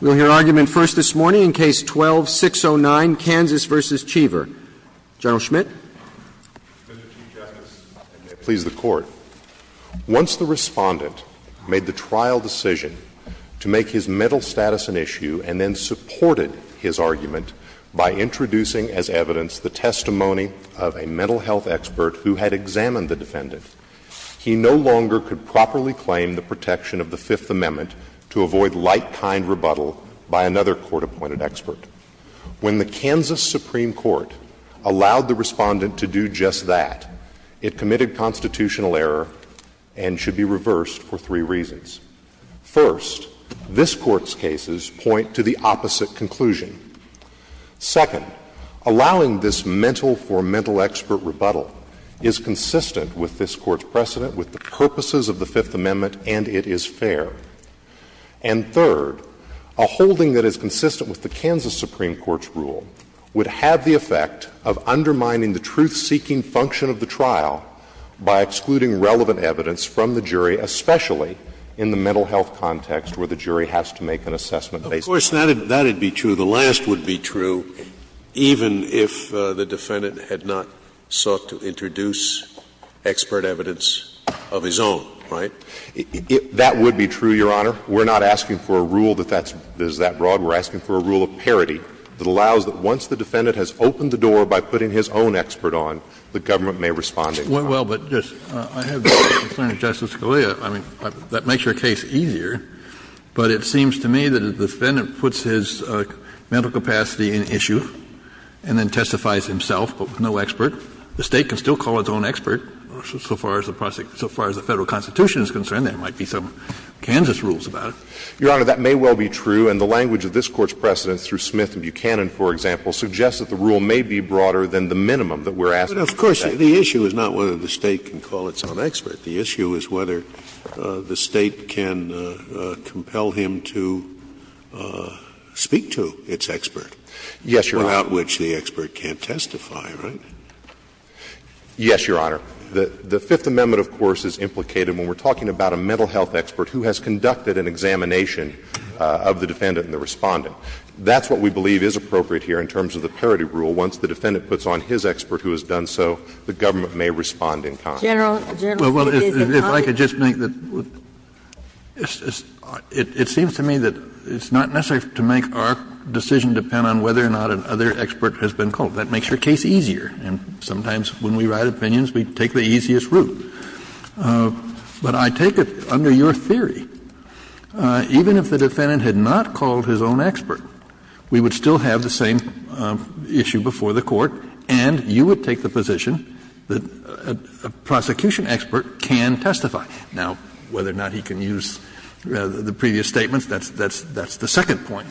We will hear argument first this morning in Case 12-609, Kansas v. Cheever. General Schmitt. Mr. Chief Justice, and may it please the Court. Once the Respondent made the trial decision to make his mental status an issue and then supported his argument by introducing as evidence the testimony of a mental health expert who had examined the defendant, he no longer could properly claim the protection of the Fifth Amendment to avoid like-kind rebuttal by another court-appointed expert. When the Kansas Supreme Court allowed the Respondent to do just that, it committed constitutional error and should be reversed for three reasons. First, this Court's cases point to the opposite conclusion. Second, allowing this mental-for-mental expert rebuttal is consistent with this Court's precedent, with the purposes of the Fifth Amendment, and it is fair. And third, a holding that is consistent with the Kansas Supreme Court's rule would have the effect of undermining the truth-seeking function of the trial by excluding relevant evidence from the jury, especially in the mental health context where the jury has to make an assessment based on that. Of course, that would be true. The last would be true even if the defendant had not sought to introduce expert evidence of his own, right? That would be true, Your Honor. We're not asking for a rule that is that broad. We're asking for a rule of parity that allows that once the defendant has opened the door by putting his own expert on, the government may respond in that way. Well, but I have the concern of Justice Scalia. I mean, that makes your case easier. But it seems to me that if the defendant puts his mental capacity in issue and then testifies himself, but with no expert, the State can still call its own expert. So far as the Federal Constitution is concerned, there might be some Kansas rules about it. Your Honor, that may well be true, and the language of this Court's precedent through Smith and Buchanan, for example, suggests that the rule may be broader than the minimum that we're asking for. But of course, the issue is not whether the State can call its own expert. The issue is whether the State can compel him to speak to its expert. Yes, Your Honor. Without which the expert can't testify, right? Yes, Your Honor. The Fifth Amendment, of course, is implicated when we're talking about a mental health expert who has conducted an examination of the defendant and the Respondent. That's what we believe is appropriate here in terms of the parity rule. Once the defendant puts on his expert who has done so, the government may respond in kind. General, General, if you could just comment. Well, if I could just make the question, it seems to me that it's not necessary to make our decision depend on whether or not another expert has been called. That makes your case easier, and sometimes when we write opinions, we take the easiest route. But I take it, under your theory, even if the defendant had not called his own expert, we would still have the same issue before the Court, and you would take the position that a prosecution expert can testify. Now, whether or not he can use the previous statements, that's the second point.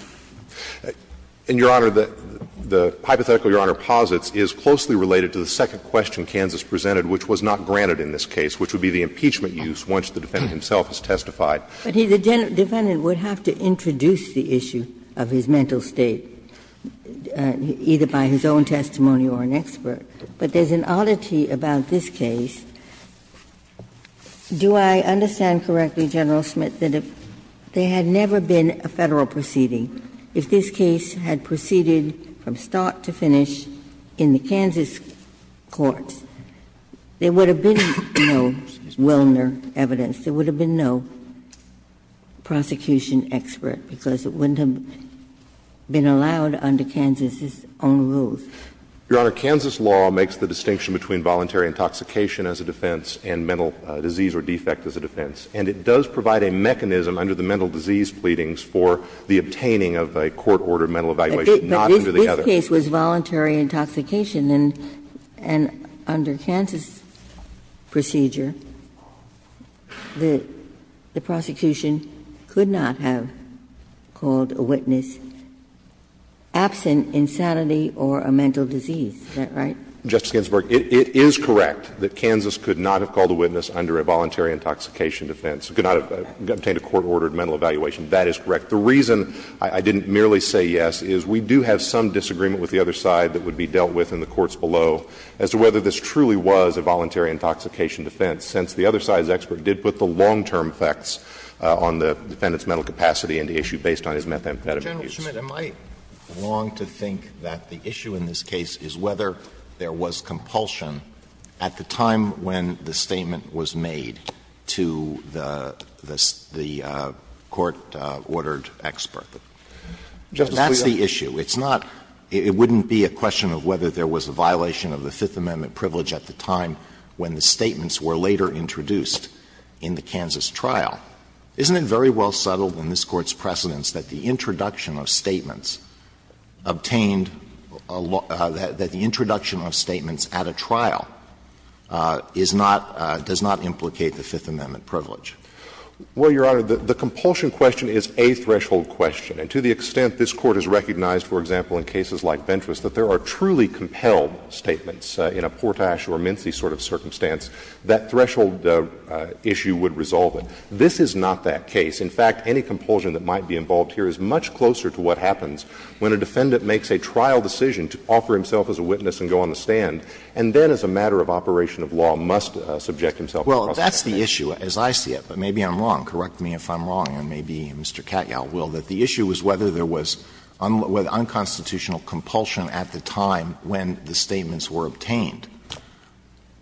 And, Your Honor, the hypothetical Your Honor posits is closely related to the second question Kansas presented, which was not granted in this case, which would be the impeachment use once the defendant himself has testified. But the defendant would have to introduce the issue of his mental state, either by his own testimony or an expert. But there's an oddity about this case. Do I understand correctly, General Smith, that if there had never been a Federal proceeding, if this case had proceeded from start to finish in the Kansas courts, there would have been no Wilner evidence, there would have been no prosecution expert, because it wouldn't have been allowed under Kansas's own rules? Your Honor, Kansas law makes the distinction between voluntary intoxication as a defense and mental disease or defect as a defense. And it does provide a mechanism under the mental disease pleadings for the obtaining of a court-ordered mental evaluation, not under the other. But this case was voluntary intoxication, and under Kansas's procedure, the prosecution could not have called a witness absent insanity or a mental disease. Is that right? Justice Ginsburg, it is correct that Kansas could not have called a witness under a voluntary intoxication defense, could not have obtained a court-ordered mental evaluation. That is correct. The reason I didn't merely say yes is we do have some disagreement with the other side that would be dealt with in the courts below as to whether this truly was a voluntary intoxication defense, since the other side's expert did put the long-term effects on the defendant's mental capacity and the issue based on his methamphetamine use. General Schmidt, am I wrong to think that the issue in this case is whether there was compulsion at the time when the statement was made to the court-ordered expert? That's the issue. It's not — it wouldn't be a question of whether there was a violation of the Fifth Amendment when the statements were later introduced in the Kansas trial. Isn't it very well settled in this Court's precedents that the introduction of statements obtained — that the introduction of statements at a trial is not — does not implicate the Fifth Amendment privilege? Well, Your Honor, the compulsion question is a threshold question. And to the extent this Court has recognized, for example, in cases like Ventra's, that there are truly compelled statements in a Portash or Mincy sort of circumstance, that threshold issue would resolve it. This is not that case. In fact, any compulsion that might be involved here is much closer to what happens when a defendant makes a trial decision to offer himself as a witness and go on the stand, and then as a matter of operation of law must subject himself to prosecution. Well, that's the issue as I see it, but maybe I'm wrong. Correct me if I'm wrong, and maybe Mr. Katyal will, that the issue was whether there was unconstitutional compulsion at the time when the statements were obtained.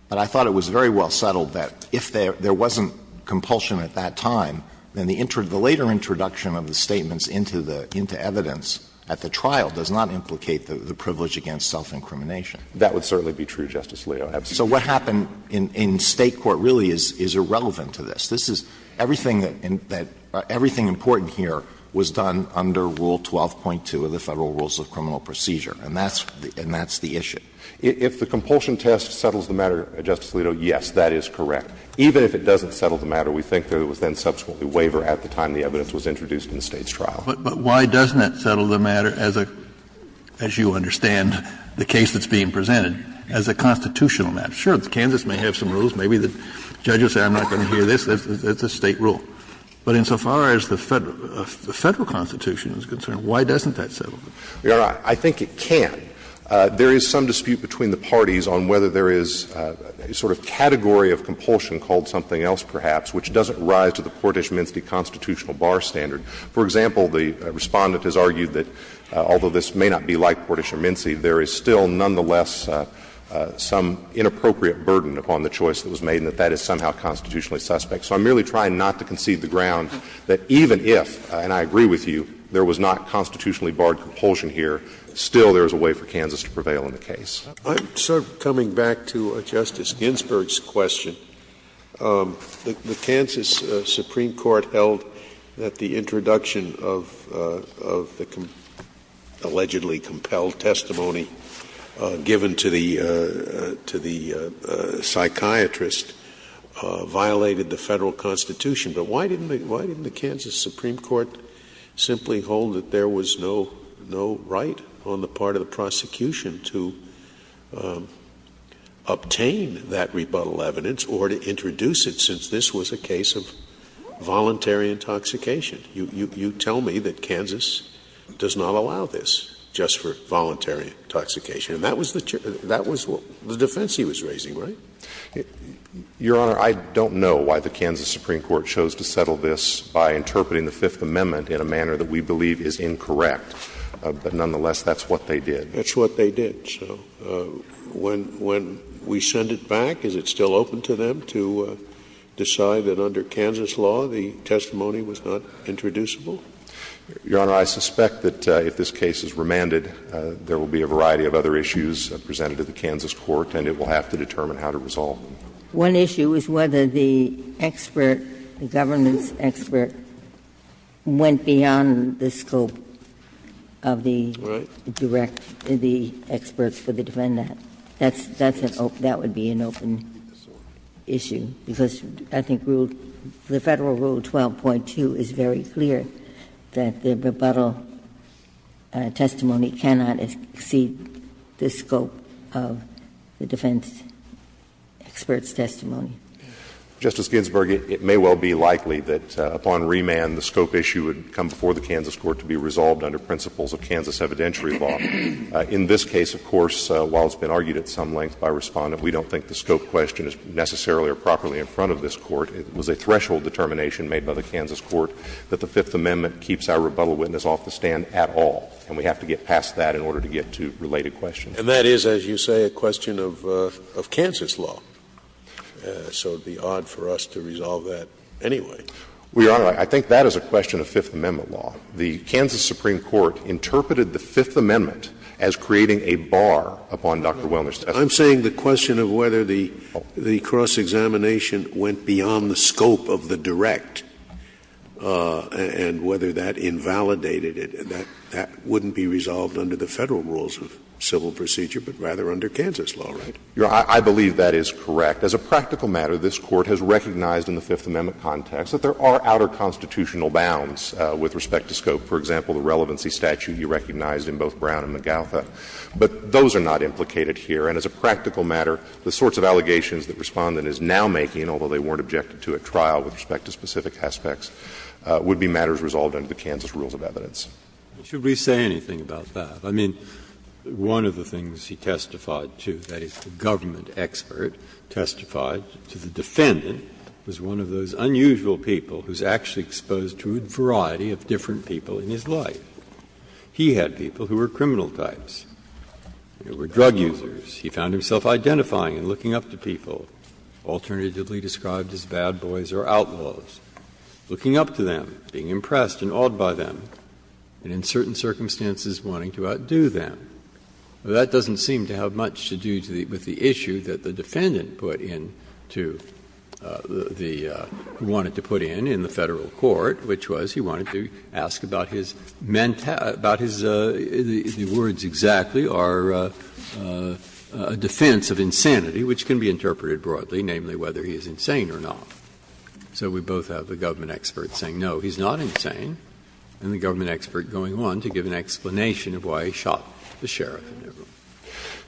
But I thought it was very well settled that if there wasn't compulsion at that time, then the later introduction of the statements into the — into evidence at the trial does not implicate the privilege against self-incrimination. That would certainly be true, Justice Alito. So what happened in State court really is irrelevant to this. This is — everything that — everything important here was done under Rule 12.2 of the Federal Rules of Criminal Procedure, and that's — and that's the issue. If the compulsion test settles the matter, Justice Alito, yes, that is correct. Even if it doesn't settle the matter, we think that it was then subsequently waver at the time the evidence was introduced in the State's trial. But why doesn't it settle the matter as a — as you understand the case that's being presented, as a constitutional matter? Sure, Kansas may have some rules. Maybe the judge will say I'm not going to hear this. That's a State rule. But insofar as the Federal Constitution is concerned, why doesn't that settle? I think it can. There is some dispute between the parties on whether there is a sort of category of compulsion called something else, perhaps, which doesn't rise to the Portish-Mincy constitutional bar standard. For example, the Respondent has argued that although this may not be like Portish or Mincy, there is still nonetheless some inappropriate burden upon the choice that was made, and that that is somehow constitutionally suspect. So I'm merely trying not to concede the ground that even if, and I agree with you, there was not constitutionally barred compulsion here, still there is a way for Kansas to prevail in the case. I'm sort of coming back to Justice Ginsburg's question. The Kansas Supreme Court held that the introduction of the allegedly compelled testimony given to the psychiatrist violated the Federal Constitution, but why didn't the Kansas Supreme Court simply hold that there was no right on the part of the prosecution to obtain that rebuttal evidence or to introduce it, since this was a case of voluntary intoxication? You tell me that Kansas does not allow this just for voluntary intoxication. And that was the defense he was raising, right? Your Honor, I don't know why the Kansas Supreme Court chose to settle this by interpreting the Fifth Amendment in a manner that we believe is incorrect. But nonetheless, that's what they did. That's what they did. So when we send it back, is it still open to them to decide that under Kansas law the Your Honor, I suspect that if this case is remanded, there will be a variety of other issues presented to the Kansas court, and it will have to determine how to resolve them. One issue is whether the expert, the governance expert, went beyond the scope of the direct, the experts for the defendant. That's an open, that would be an open issue, because I think rule, the Federal Rule 12.2 is very clear that the rebuttal testimony cannot exceed the scope of the defense expert's testimony. Justice Ginsburg, it may well be likely that upon remand the scope issue would come before the Kansas court to be resolved under principles of Kansas evidentiary law. In this case, of course, while it's been argued at some length by Respondent, we don't think the scope question is necessarily or properly in front of this Court. It was a threshold determination made by the Kansas court that the Fifth Amendment keeps our rebuttal witness off the stand at all. And we have to get past that in order to get to related questions. And that is, as you say, a question of Kansas law. So it would be odd for us to resolve that anyway. Well, Your Honor, I think that is a question of Fifth Amendment law. The Kansas Supreme Court interpreted the Fifth Amendment as creating a bar upon Dr. Wellner's testimony. I'm saying the question of whether the cross-examination went beyond the scope of the direct and whether that invalidated it, that wouldn't be resolved under the Federal rules of civil procedure, but rather under Kansas law, right? Your Honor, I believe that is correct. As a practical matter, this Court has recognized in the Fifth Amendment context that there are outer constitutional bounds with respect to scope. For example, the relevancy statute you recognized in both Brown and McGautha. But those are not implicated here. And as a practical matter, the sorts of allegations that Respondent is now making, although they weren't objected to at trial with respect to specific aspects, would be matters resolved under the Kansas rules of evidence. Breyer, should we say anything about that? I mean, one of the things he testified to, that is, the government expert testified to the defendant, was one of those unusual people who is actually exposed to a variety of different people in his life. He had people who were criminal types. They were drug users. He found himself identifying and looking up to people, alternatively described as bad boys or outlaws, looking up to them, being impressed and awed by them, and in certain circumstances wanting to outdo them. That doesn't seem to have much to do with the issue that the defendant put in to the one he wanted to put in in the Federal court, which was he wanted to ask about his mental – about his – the words exactly are a defense of insanity, which can be interpreted broadly, namely whether he is insane or not. So we both have the government expert saying, no, he's not insane, and the government expert going on to give an explanation of why he shot the sheriff.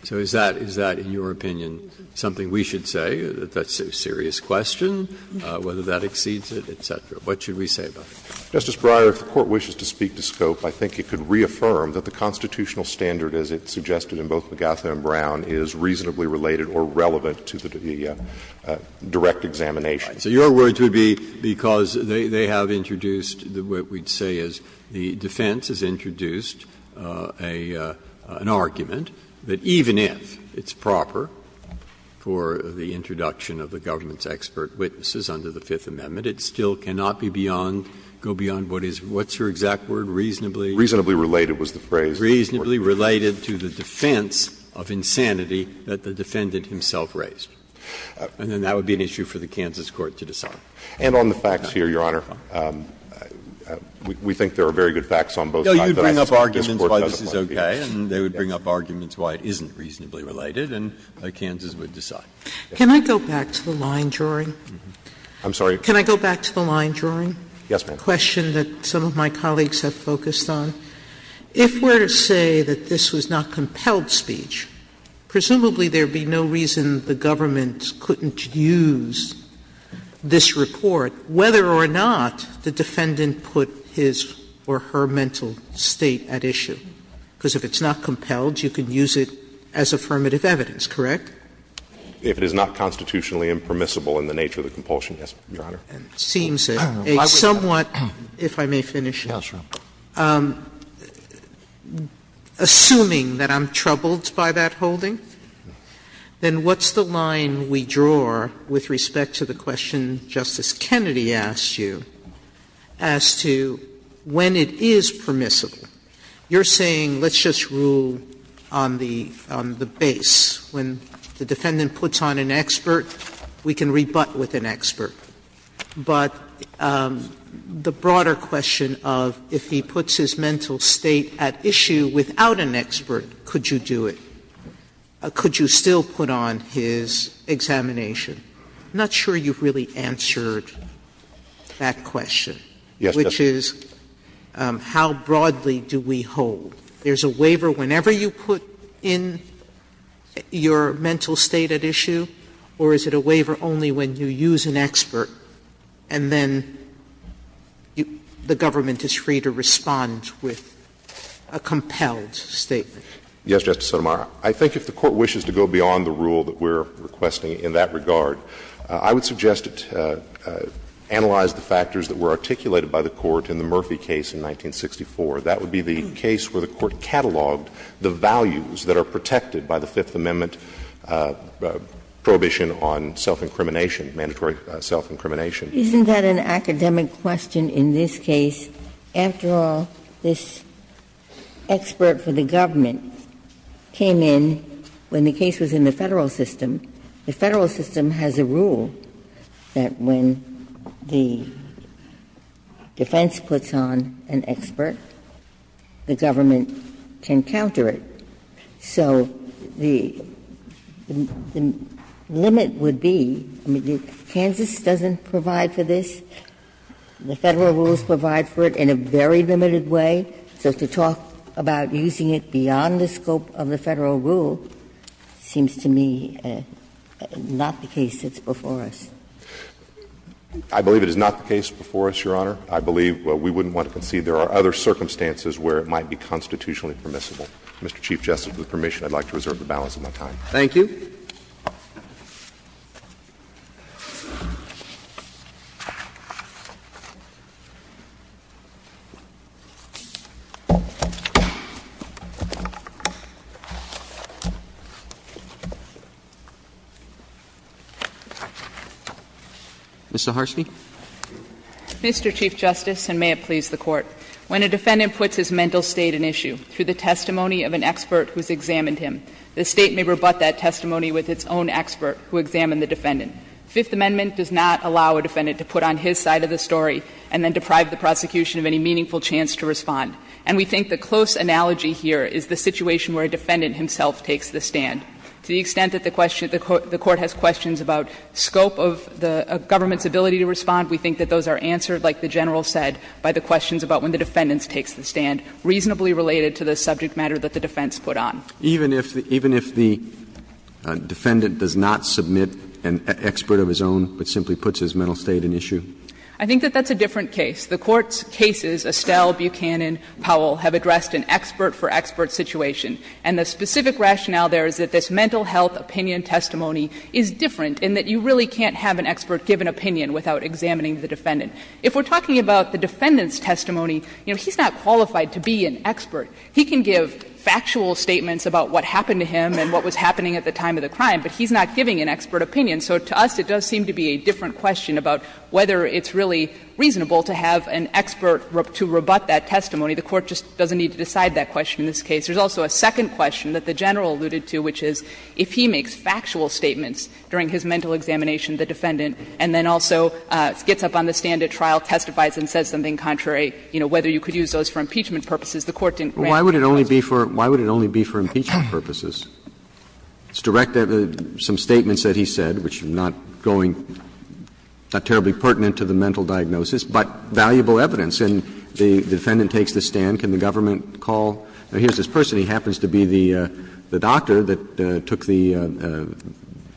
So is that – is that, in your opinion, something we should say, that that's a serious question, whether that exceeds it, et cetera? What should we say about it? Justice Breyer, if the Court wishes to speak to scope, I think it could reaffirm that the constitutional standard as it's suggested in both Magatha and Brown is reasonably related or relevant to the direct examination. So your words would be because they have introduced what we'd say is the defense has introduced an argument that even if it's proper for the introduction of the government's expert witnesses under the Fifth Amendment, it still cannot be beyond – go beyond what is – what's your exact word, reasonably? Reasonably related was the phrase. Reasonably related to the defense of insanity that the defendant himself raised. And then that would be an issue for the Kansas court to decide. And on the facts here, Your Honor, we think there are very good facts on both sides. No, you'd bring up arguments why this is okay, and they would bring up arguments why it isn't reasonably related, and Kansas would decide. Can I go back to the line, Jury? I'm sorry? Can I go back to the line, Jury? Yes, ma'am. The question that some of my colleagues have focused on. If we're to say that this was not compelled speech, presumably there would be no reason the government couldn't use this report, whether or not the defendant put his or her mental state at issue. Because if it's not compelled, you could use it as affirmative evidence, correct? If it is not constitutionally impermissible in the nature of the compulsion, yes, Your Honor. Sotomayor, it seems a somewhat, if I may finish. Assuming that I'm troubled by that holding, then what's the line we draw with respect to the question Justice Kennedy asked you as to when it is permissible? You're saying let's just rule on the base. When the defendant puts on an expert, we can rebut with an expert. But the broader question of if he puts his mental state at issue without an expert, could you do it? Could you still put on his examination? I'm not sure you've really answered that question. Yes, Justice. Which is, how broadly do we hold? There's a waiver whenever you put in your mental state at issue, or is it a waiver only when you use an expert and then the government is free to respond with a compelled statement? Yes, Justice Sotomayor. I think if the Court wishes to go beyond the rule that we're requesting in that regard, I would suggest it analyze the factors that were articulated by the Court in the Murphy case in 1964. That would be the case where the Court cataloged the values that are protected by the Fifth Amendment prohibition on self-incrimination, mandatory self-incrimination. Isn't that an academic question in this case? After all, this expert for the government came in when the case was in the Federal system. The Federal system has a rule that when the defense puts on an expert, the government can counter it. So the limit would be, I mean, Kansas doesn't provide for this. The Federal rules provide for it in a very limited way. So to talk about using it beyond the scope of the Federal rule seems to me not the case that's before us. I believe it is not the case before us, Your Honor. I believe we wouldn't want to concede there are other circumstances where it might be constitutionally permissible. Mr. Chief Justice, with permission, I'd like to reserve the balance of my time. Thank you. Mr. Harstie. Mr. Chief Justice, and may it please the Court. When a defendant puts his mental state in issue through the testimony of an expert who's examined him, the State may rebut that testimony with its own expert who examined the defendant. Fifth Amendment does not allow a defendant to put on his side of the story and then deprive the prosecution of any meaningful chance to respond. And we think the close analogy here is the situation where a defendant himself takes the stand. To the extent that the question of the Court has questions about scope of the government's ability to respond, we think that those are answered, like the General said, by the questions about when the defendant takes the stand, reasonably related to the subject matter that the defense put on. Even if the defendant does not submit an expert of his own, but simply puts his mental state in issue? I think that that's a different case. The Court's cases, Estelle, Buchanan, Powell, have addressed an expert for expert situation. And the specific rationale there is that this mental health opinion testimony is different in that you really can't have an expert give an opinion without examining the defendant. If we're talking about the defendant's testimony, you know, he's not qualified to be an expert. He can give factual statements about what happened to him and what was happening at the time of the crime, but he's not giving an expert opinion. So to us, it does seem to be a different question about whether it's really reasonable to have an expert to rebut that testimony. The Court just doesn't need to decide that question in this case. There's also a second question that the General alluded to, which is if he makes factual statements during his mental examination, the defendant, and then also gets up on the stand at trial, testifies and says something contrary, you know, whether you could use those for impeachment purposes, the Court didn't grant him those. Roberts' Why would it only be for impeachment purposes? It's directed at some statements that he said, which are not going to be terribly pertinent to the mental diagnosis, but valuable evidence. And the defendant takes the stand. Can the government call? Here's this person. He happens to be the doctor that took the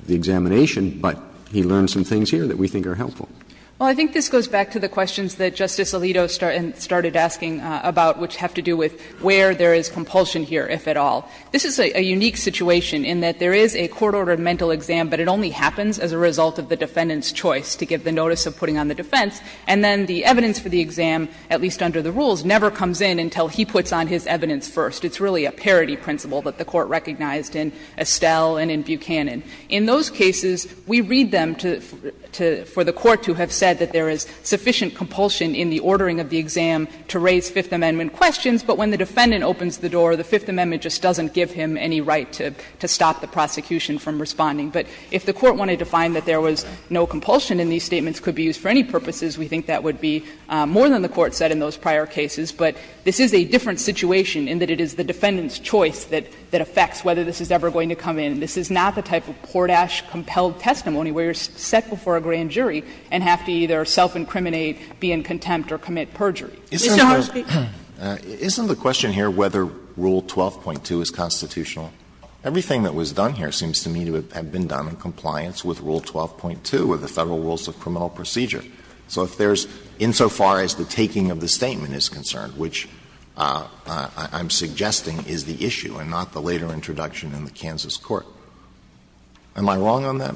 examination, but he learned some things here that we think are helpful. Well, I think this goes back to the questions that Justice Alito started asking about, which have to do with where there is compulsion here, if at all. This is a unique situation in that there is a court-ordered mental exam, but it only happens as a result of the defendant's choice to give the notice of putting on the defense, and then the evidence for the exam, at least under the rules, never comes in until he puts on his evidence first. It's really a parity principle that the Court recognized in Estelle and in Buchanan. In those cases, we read them to the Court to have said that there is sufficient compulsion in the ordering of the exam to raise Fifth Amendment questions, but when the defendant opens the door, the Fifth Amendment just doesn't give him any right to stop the prosecution from responding. But if the Court wanted to find that there was no compulsion and these statements could be used for any purposes, we think that would be more than the Court said in those prior cases. But this is a different situation in that it is the defendant's choice that affects whether this is ever going to come in. This is not the type of Portash-compelled testimony where you are set before a grand jury and have to either self-incriminate, be in contempt, or commit perjury. Mr. Horne, speak. Alito, isn't the question here whether Rule 12.2 is constitutional? Everything that was done here seems to me to have been done in compliance with Rule 12.2 of the Federal Rules of Criminal Procedure. So if there is, insofar as the taking of the statement is concerned, which I'm suggesting is the issue and not the later introduction in the Kansas court, am I wrong on that?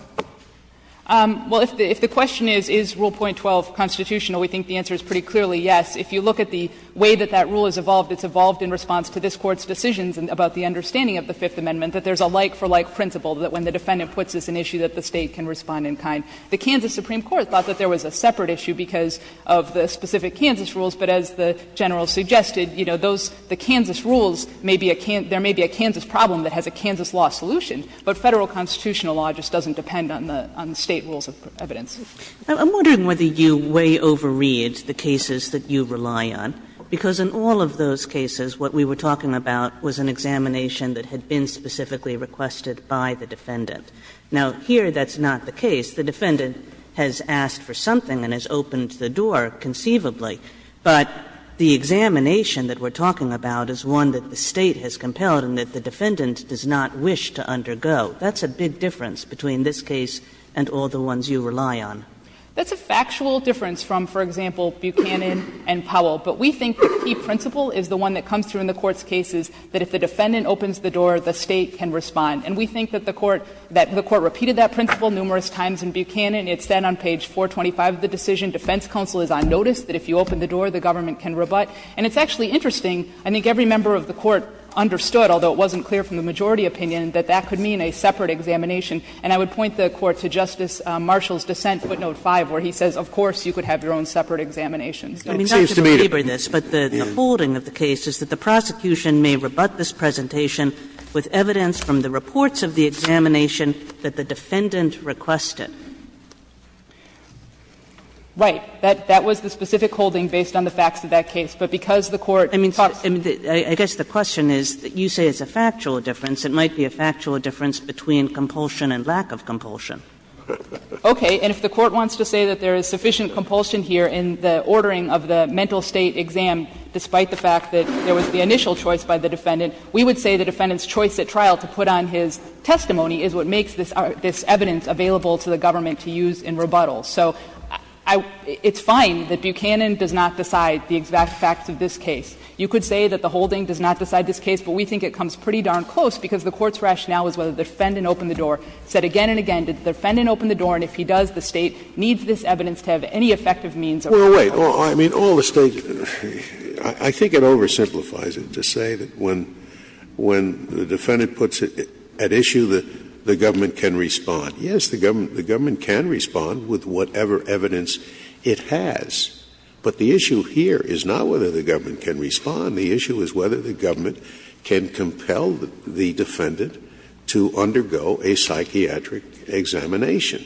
Well, if the question is, is Rule 12.2 constitutional, we think the answer is pretty clearly yes. If you look at the way that that rule has evolved, it's evolved in response to this Court's decisions about the understanding of the Fifth Amendment that there is a like-for-like principle, that when the defendant puts an issue that the State can respond in kind. The Kansas Supreme Court thought that there was a separate issue because of the specific Kansas rules, but as the General suggested, you know, those Kansas rules may be a Kansas – there may be a Kansas problem that has a Kansas law solution, but Federal constitutional law just doesn't depend on the State rules of evidence. I'm wondering whether you way overread the cases that you rely on, because in all of those cases what we were talking about was an examination that had been specifically requested by the defendant. Now, here that's not the case. The defendant has asked for something and has opened the door conceivably, but the examination that we're talking about is one that the State has compelled and that the defendant does not wish to undergo. That's a big difference between this case and all the ones you rely on. That's a factual difference from, for example, Buchanan and Powell, but we think the key principle is the one that comes through in the Court's cases, that if the defendant opens the door, the State can respond. And we think that the Court repeated that principle numerous times in Buchanan. It's then on page 425 of the decision, defense counsel is on notice that if you open the door, the government can rebut. And it's actually interesting. I think every member of the Court understood, although it wasn't clear from the majority opinion, that that could mean a separate examination. And I would point the Court to Justice Marshall's dissent, footnote 5, where he says, of course, you could have your own separate examinations. So it seems to me that the case is that the prosecution may rebut this presentation with evidence from the reports of the examination that the defendant requested. Saharsky. Right. That was the specific holding based on the facts of that case. But because the Court talks to the State, the State can't rebut it. I mean, I guess the question is, you say it's a factual difference. It might be a factual difference between compulsion and lack of compulsion. Okay. And if the Court wants to say that there is sufficient compulsion here in the ordering of the mental state exam, despite the fact that there was the initial choice by the defendant's choice at trial to put on his testimony, is what makes this evidence available to the government to use in rebuttal. So it's fine that Buchanan does not decide the exact facts of this case. You could say that the holding does not decide this case, but we think it comes pretty darn close, because the Court's rationale is whether the defendant opened the door, said again and again, did the defendant open the door, and if he does, the State Scalia. Scalia. Well, wait. I mean, all the State — I think it oversimplifies it to say that when the defendant puts at issue that the government can respond. Yes, the government can respond with whatever evidence it has. But the issue here is not whether the government can respond. The issue is whether the government can compel the defendant to undergo a psychiatric examination.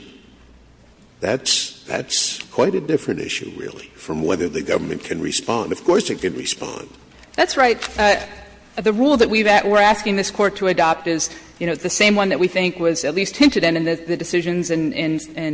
That's quite a different issue, really, from whether the government can respond. Of course it can respond. That's right. The rule that we're asking this Court to adopt is, you know, the same one that we think was at least hinted in in the decisions in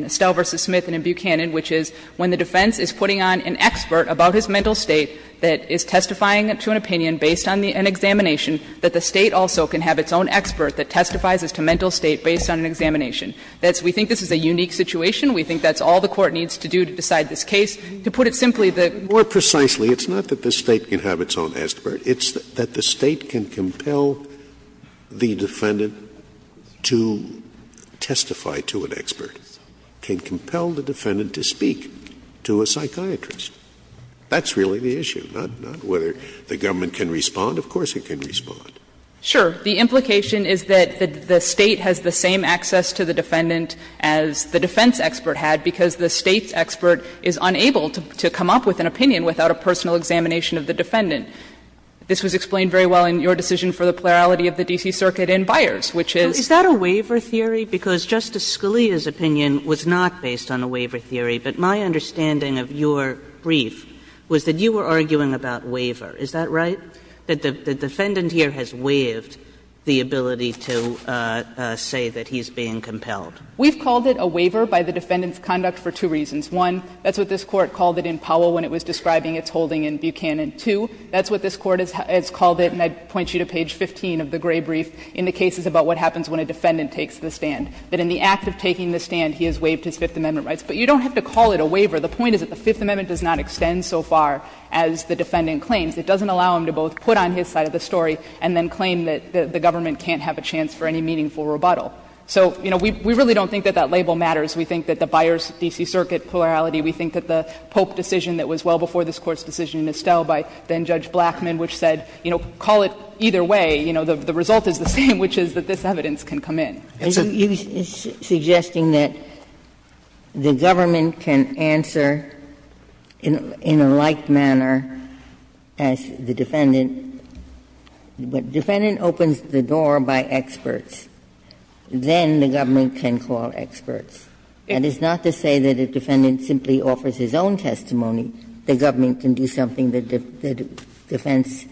Estelle v. Smith and in Buchanan, which is when the defense is putting on an expert about his mental state that is testifying to an opinion based on an examination, that the State also can have its own expert that testifies as to mental state based on an examination. That's — we think this is a unique situation. We think that's all the Court needs to do to decide this case. To put it simply, the — More precisely, it's not that the State can have its own expert. It's that the State can compel the defendant to testify to an expert. It can compel the defendant to speak to a psychiatrist. That's really the issue, not whether the government can respond. Of course it can respond. Sure. The implication is that the State has the same access to the defendant as the defense expert had because the State's expert is unable to come up with an opinion without a personal examination of the defendant. This was explained very well in your decision for the plurality of the D.C. Circuit in Byers, which is — Kagan is that a waiver theory? Because Justice Scalia's opinion was not based on a waiver theory. But my understanding of your brief was that you were arguing about waiver. Is that right? That the defendant here has waived the ability to say that he's being compelled. We've called it a waiver by the defendant's conduct for two reasons. One, that's what this Court called it in Powell when it was describing its holding in Buchanan. Two, that's what this Court has called it, and I'd point you to page 15 of the gray brief, in the cases about what happens when a defendant takes the stand, that in the act of taking the stand, he has waived his Fifth Amendment rights. But you don't have to call it a waiver. The point is that the Fifth Amendment does not extend so far as the defendant claims. It doesn't allow him to both put on his side of the story and then claim that the government can't have a chance for any meaningful rebuttal. So, you know, we really don't think that that label matters. We think that the Byers, D.C. Circuit plurality, we think that the Pope decision that was well before this Court's decision in Estelle by then-Judge Blackmun, which said, you know, call it either way, you know, the result is the same, which is that this evidence can come in. Ginsburg-McGillivray And you're suggesting that the government can answer in a like manner as the defendant. If a defendant opens the door by experts, then the government can call experts. And it's not to say that if a defendant simply offers his own testimony, the government can do something that the defense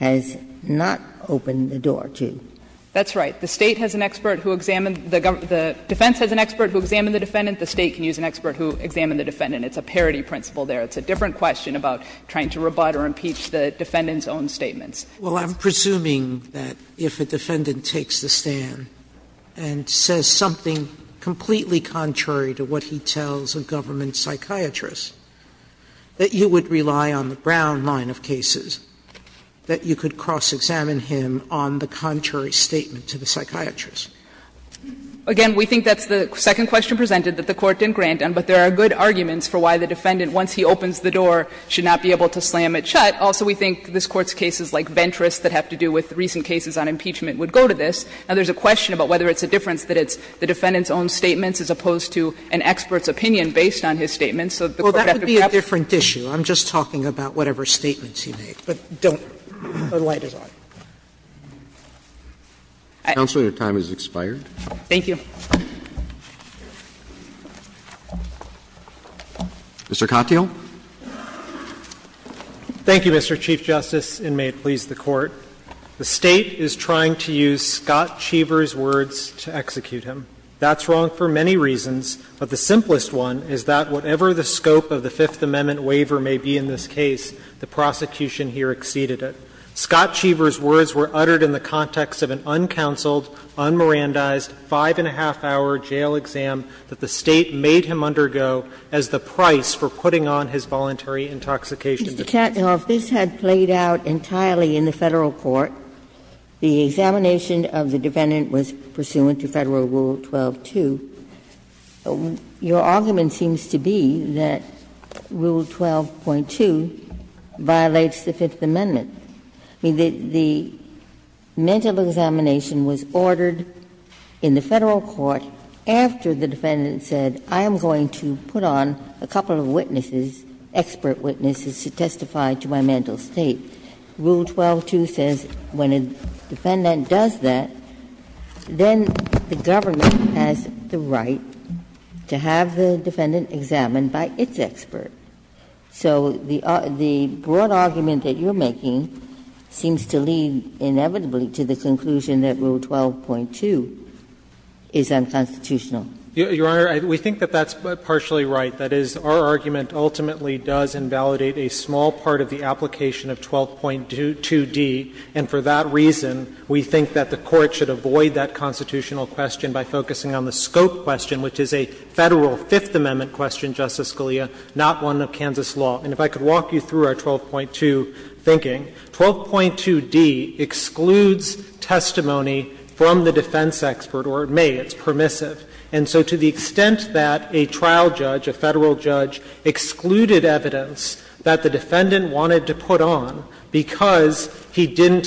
has not opened the door to. That's right. The State has an expert who examined the defense has an expert who examined the defendant. The State can use an expert who examined the defendant. It's a parity principle there. It's a different question about trying to rebut or impeach the defendant's own statements. Sotomayor Well, I'm presuming that if a defendant takes the stand and says something completely contrary to what he tells a government psychiatrist, that you would rely on the Brown line of cases, that you could cross-examine him on the contrary to the statement to the psychiatrist. Ginsburg Again, we think that's the second question presented that the Court didn't grant, but there are good arguments for why the defendant, once he opens the door, should not be able to slam it shut. Also, we think this Court's cases like Ventress that have to do with recent cases on impeachment would go to this. Now, there's a question about whether it's a difference that it's the defendant's own statements as opposed to an expert's opinion based on his statements. So the Court would have to grapple with that. Sotomayor Well, that would be a different issue. I'm just talking about whatever statements he made, but don't. The light is on. Roberts Counsel, your time has expired. Sotomayor Thank you. Roberts Mr. Katyal. Katyal Thank you, Mr. Chief Justice, and may it please the Court. The State is trying to use Scott Cheever's words to execute him. That's wrong for many reasons, but the simplest one is that whatever the scope of the Fifth Amendment waiver may be in this case, the prosecution here exceeded it. Scott Cheever's words were uttered in the context of an uncounseled, unmerandized, five-and-a-half-hour jail exam that the State made him undergo as the price for putting on his voluntary intoxication defense. Ginsburg Mr. Katyal, if this had played out entirely in the Federal court, the examination of the defendant was pursuant to Federal Rule 12.2, your argument seems to be that Rule 12.2 violates the Fifth Amendment. I mean, the mental examination was ordered in the Federal court after the defendant said, I am going to put on a couple of witnesses, expert witnesses, to testify to my mental state. Rule 12.2 says when a defendant does that, then the government has the right to have the defendant examined by its expert. So the broad argument that you're making seems to lead inevitably to the conclusion that Rule 12.2 is unconstitutional. Katyal Your Honor, we think that that's partially right. That is, our argument ultimately does invalidate a small part of the application of 12.2d, and for that reason, we think that the Court should avoid that constitutional question by focusing on the scope question, which is a Federal Fifth Amendment question, Justice Scalia, not one of Kansas law. And if I could walk you through our 12.2 thinking, 12.2d excludes testimony from the defense expert or may, it's permissive. And so to the extent that a trial judge, a Federal judge, excluded evidence that the defendant wanted to put on because he didn't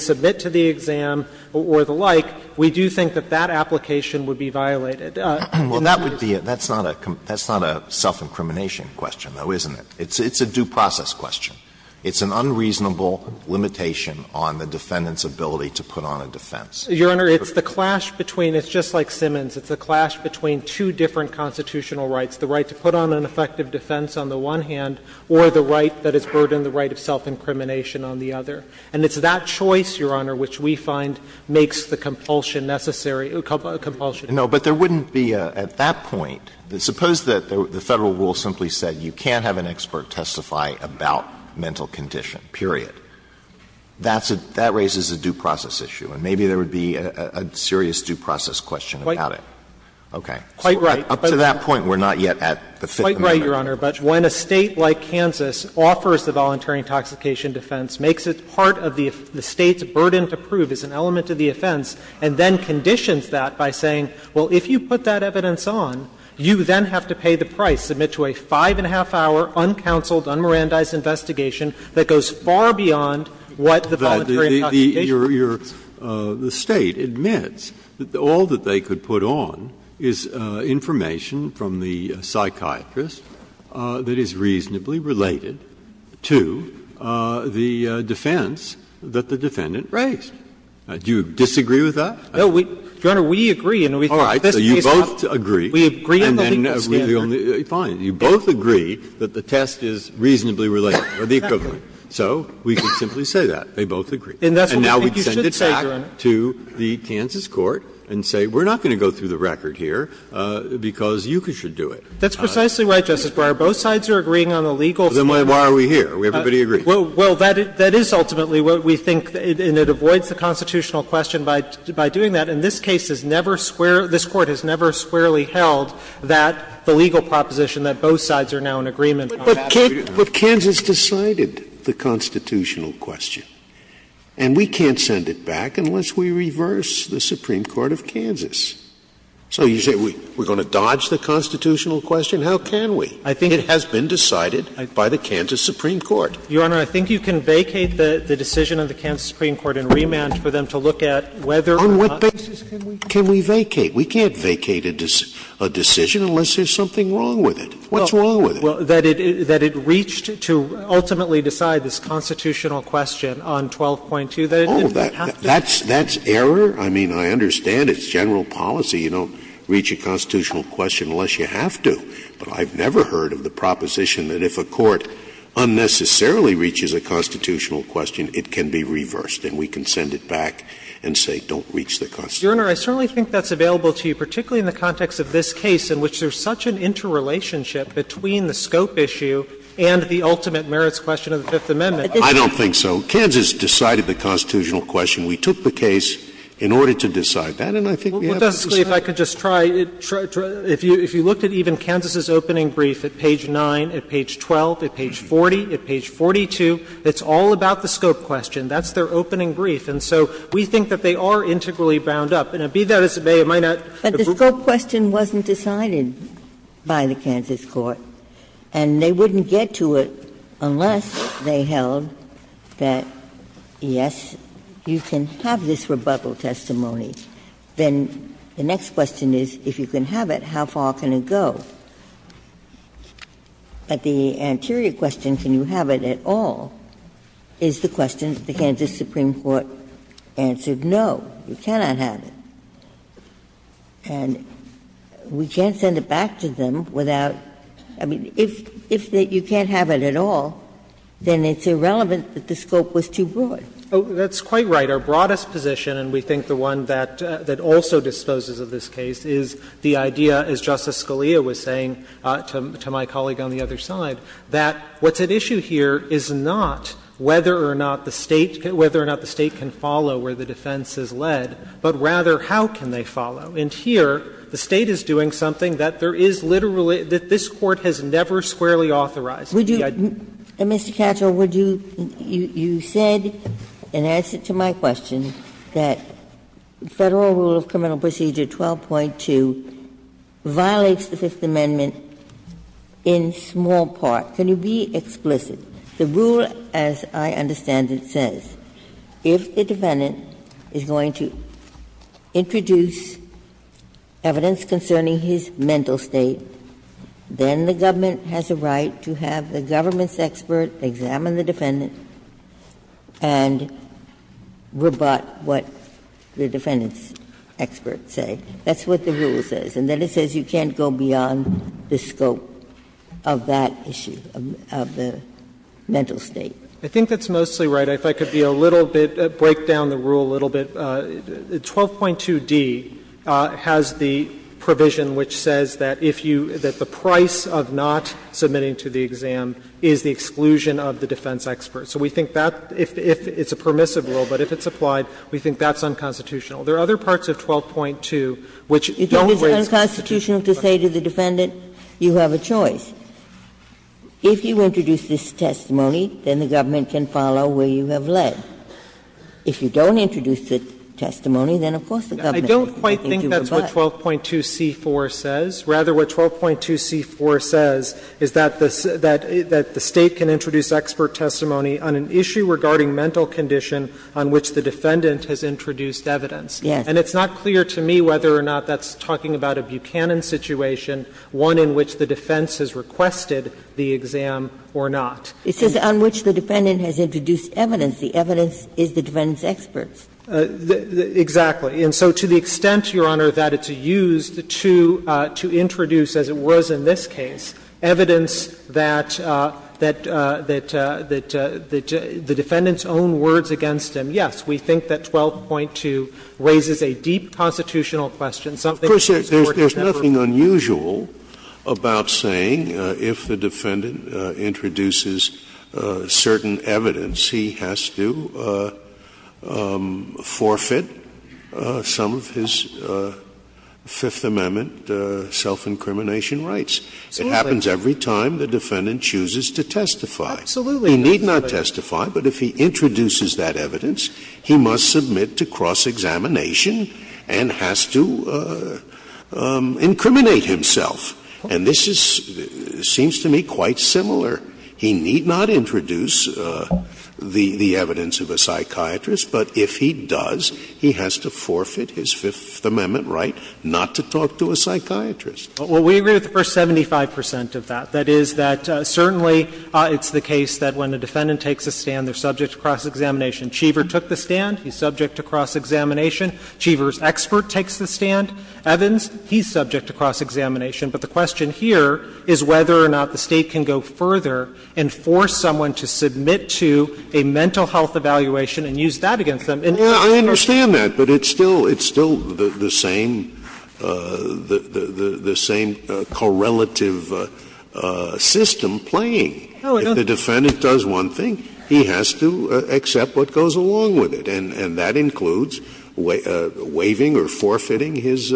submit to the exam or the like, we do think that that application would be violated. Alito Well, that would be a – that's not a self-incrimination question, though, isn't it? It's a due process question. It's an unreasonable limitation on the defendant's ability to put on a defense. Katyal Your Honor, it's the clash between – it's just like Simmons. It's the clash between two different constitutional rights, the right to put on an effective defense on the one hand or the right that is burdened, the right of self-incrimination on the other. And it's that choice, Your Honor, which we find makes the compulsion necessary – compulsion. Alito No, but there wouldn't be at that point – suppose that the Federal rule simply said you can't have an expert testify about mental condition, period. That's a – that raises a due process issue, and maybe there would be a serious due process question about it. Katyal Quite right. Alito Okay. Up to that point, we're not yet at the Fifth Amendment. Katyal Quite right, Your Honor. But when a State like Kansas offers the voluntary intoxication defense, makes it part of the State's burden to prove as an element of the offense, and then conditions that by saying, well, if you put that evidence on, you then have to pay the price, submit to a five-and-a-half-hour, uncounseled, unmerandized investigation that goes far beyond what the voluntary intoxication defense is. Breyer Your – the State admits that all that they could put on is information from the psychiatrist that is reasonably related to the defense that the defendant raised. Do you disagree with that? Katyal No, we – Your Honor, we agree, and we think this case has to be on the legal standard. Breyer All right, so you both agree, and then we're the only – fine. You both agree that the test is reasonably related, or the equivalent. So we can simply say that, they both agree. And that's what we think you should say, Your Honor. Breyer And now we send it back to the Kansas court and say, we're not going to go through the record here, because you should do it. Katyal That's precisely right, Justice Breyer. Both sides are agreeing on the legal standard. Breyer Then why are we here? Everybody agrees. Katyal Well, that is ultimately what we think, and it avoids the constitutional question by doing that. And this case has never square – this Court has never squarely held that the legal proposition, that both sides are now in agreement on that. Scalia But Kansas decided the constitutional question, and we can't send it back unless we reverse the Supreme Court of Kansas. So you say we're going to dodge the constitutional question? How can we? It has been decided by the Kansas Supreme Court. Katyal Your Honor, I think you can vacate the decision of the Kansas Supreme Court and remand for them to look at whether or not the constitutional question has been reversed. Scalia On what basis can we vacate? We can't vacate a decision unless there's something wrong with it. What's wrong with it? Katyal Well, that it reached to ultimately decide this constitutional question on 12.2. Scalia Oh, that's error? I mean, I understand it's general policy. You don't reach a constitutional question unless you have to. But I've never heard of the proposition that if a court unnecessarily reaches a constitutional question, it can be reversed, and we can send it back and say don't reach the constitutional question. Katyal Your Honor, I certainly think that's available to you, particularly in the context of this case, in which there's such an interrelationship between the scope issue and the ultimate merits question of the Fifth Amendment. Scalia I don't think so. Kansas decided the constitutional question. We took the case in order to decide that, and I think we have to decide it. Katyal Well, Justice Scalia, if I could just try, if you looked at even Kansas's opening brief at page 9, at page 12, at page 40, at page 42, it's all about the scope question. That's their opening brief. And so we think that they are integrally bound up. And it be that as it may, it might not have been. Ginsburg But the scope question wasn't decided by the Kansas court, and they wouldn't get to it unless they held that, yes, you can have this rebuttal testimony. Then the next question is, if you can have it, how far can it go? But the anterior question, can you have it at all, is the question that the Kansas Supreme Court answered, no, you cannot have it. And we can't send it back to them without – I mean, if you can't have it at all, then it's irrelevant that the scope was too broad. Katyal That's quite right. Our broadest position, and we think the one that also disposes of this case, is the saying, to my colleague on the other side, that what's at issue here is not whether or not the State – whether or not the State can follow where the defense is led, but rather how can they follow. And here, the State is doing something that there is literally – that this Court has never squarely authorized. Ginsburg Mr. Katyal, would you – you said, in answer to my question, that Federal Rule of Criminal Defendant in small part – can you be explicit? The rule, as I understand it, says if the defendant is going to introduce evidence concerning his mental state, then the government has a right to have the government's expert examine the defendant and rebut what the defendant's experts say. That's what the rule says. And then it says you can't go beyond the scope of that issue, of the mental state. Katyal I think that's mostly right. If I could be a little bit – break down the rule a little bit. 12.2d has the provision which says that if you – that the price of not submitting to the exam is the exclusion of the defense experts. So we think that, if it's a permissive rule, but if it's applied, we think that's unconstitutional. There are other parts of 12.2 which don't raise the question. If it's unconstitutional to say to the defendant, you have a choice, if you introduce this testimony, then the government can follow where you have led. If you don't introduce the testimony, then of course the government can do what it wants. I don't quite think that's what 12.2c4 says. Rather, what 12.2c4 says is that the State can introduce expert testimony on an issue regarding mental condition on which the defendant has introduced evidence. Yes. And it's not clear to me whether or not that's talking about a Buchanan situation, one in which the defense has requested the exam or not. It says on which the defendant has introduced evidence. The evidence is the defendant's experts. Exactly. And so to the extent, Your Honor, that it's used to introduce, as it was in this case, evidence that the defendant's own words against him, yes, we think that 12.2 raises a deep constitutional question, something that these courts have heard. Of course, there's nothing unusual about saying if the defendant introduces certain evidence, he has to forfeit some of his Fifth Amendment self-incrimination rights. Absolutely. It happens every time the defendant chooses to testify. Absolutely. He need not testify, but if he introduces that evidence, he must submit to cross-examination and has to incriminate himself. And this is seems to me quite similar. He need not introduce the evidence of a psychiatrist, but if he does, he has to forfeit his Fifth Amendment right not to talk to a psychiatrist. Well, we agree with the first 75 percent of that. That is that certainly it's the case that when a defendant takes a stand, they're subject to cross-examination. Cheever took the stand. He's subject to cross-examination. Cheever's expert takes the stand. Evans, he's subject to cross-examination. But the question here is whether or not the State can go further and force someone to submit to a mental health evaluation and use that against them. Scalia. I understand that, but it's still the same correlative system playing. If the defendant does one thing, he has to accept what goes along with it. And that includes waiving or forfeiting his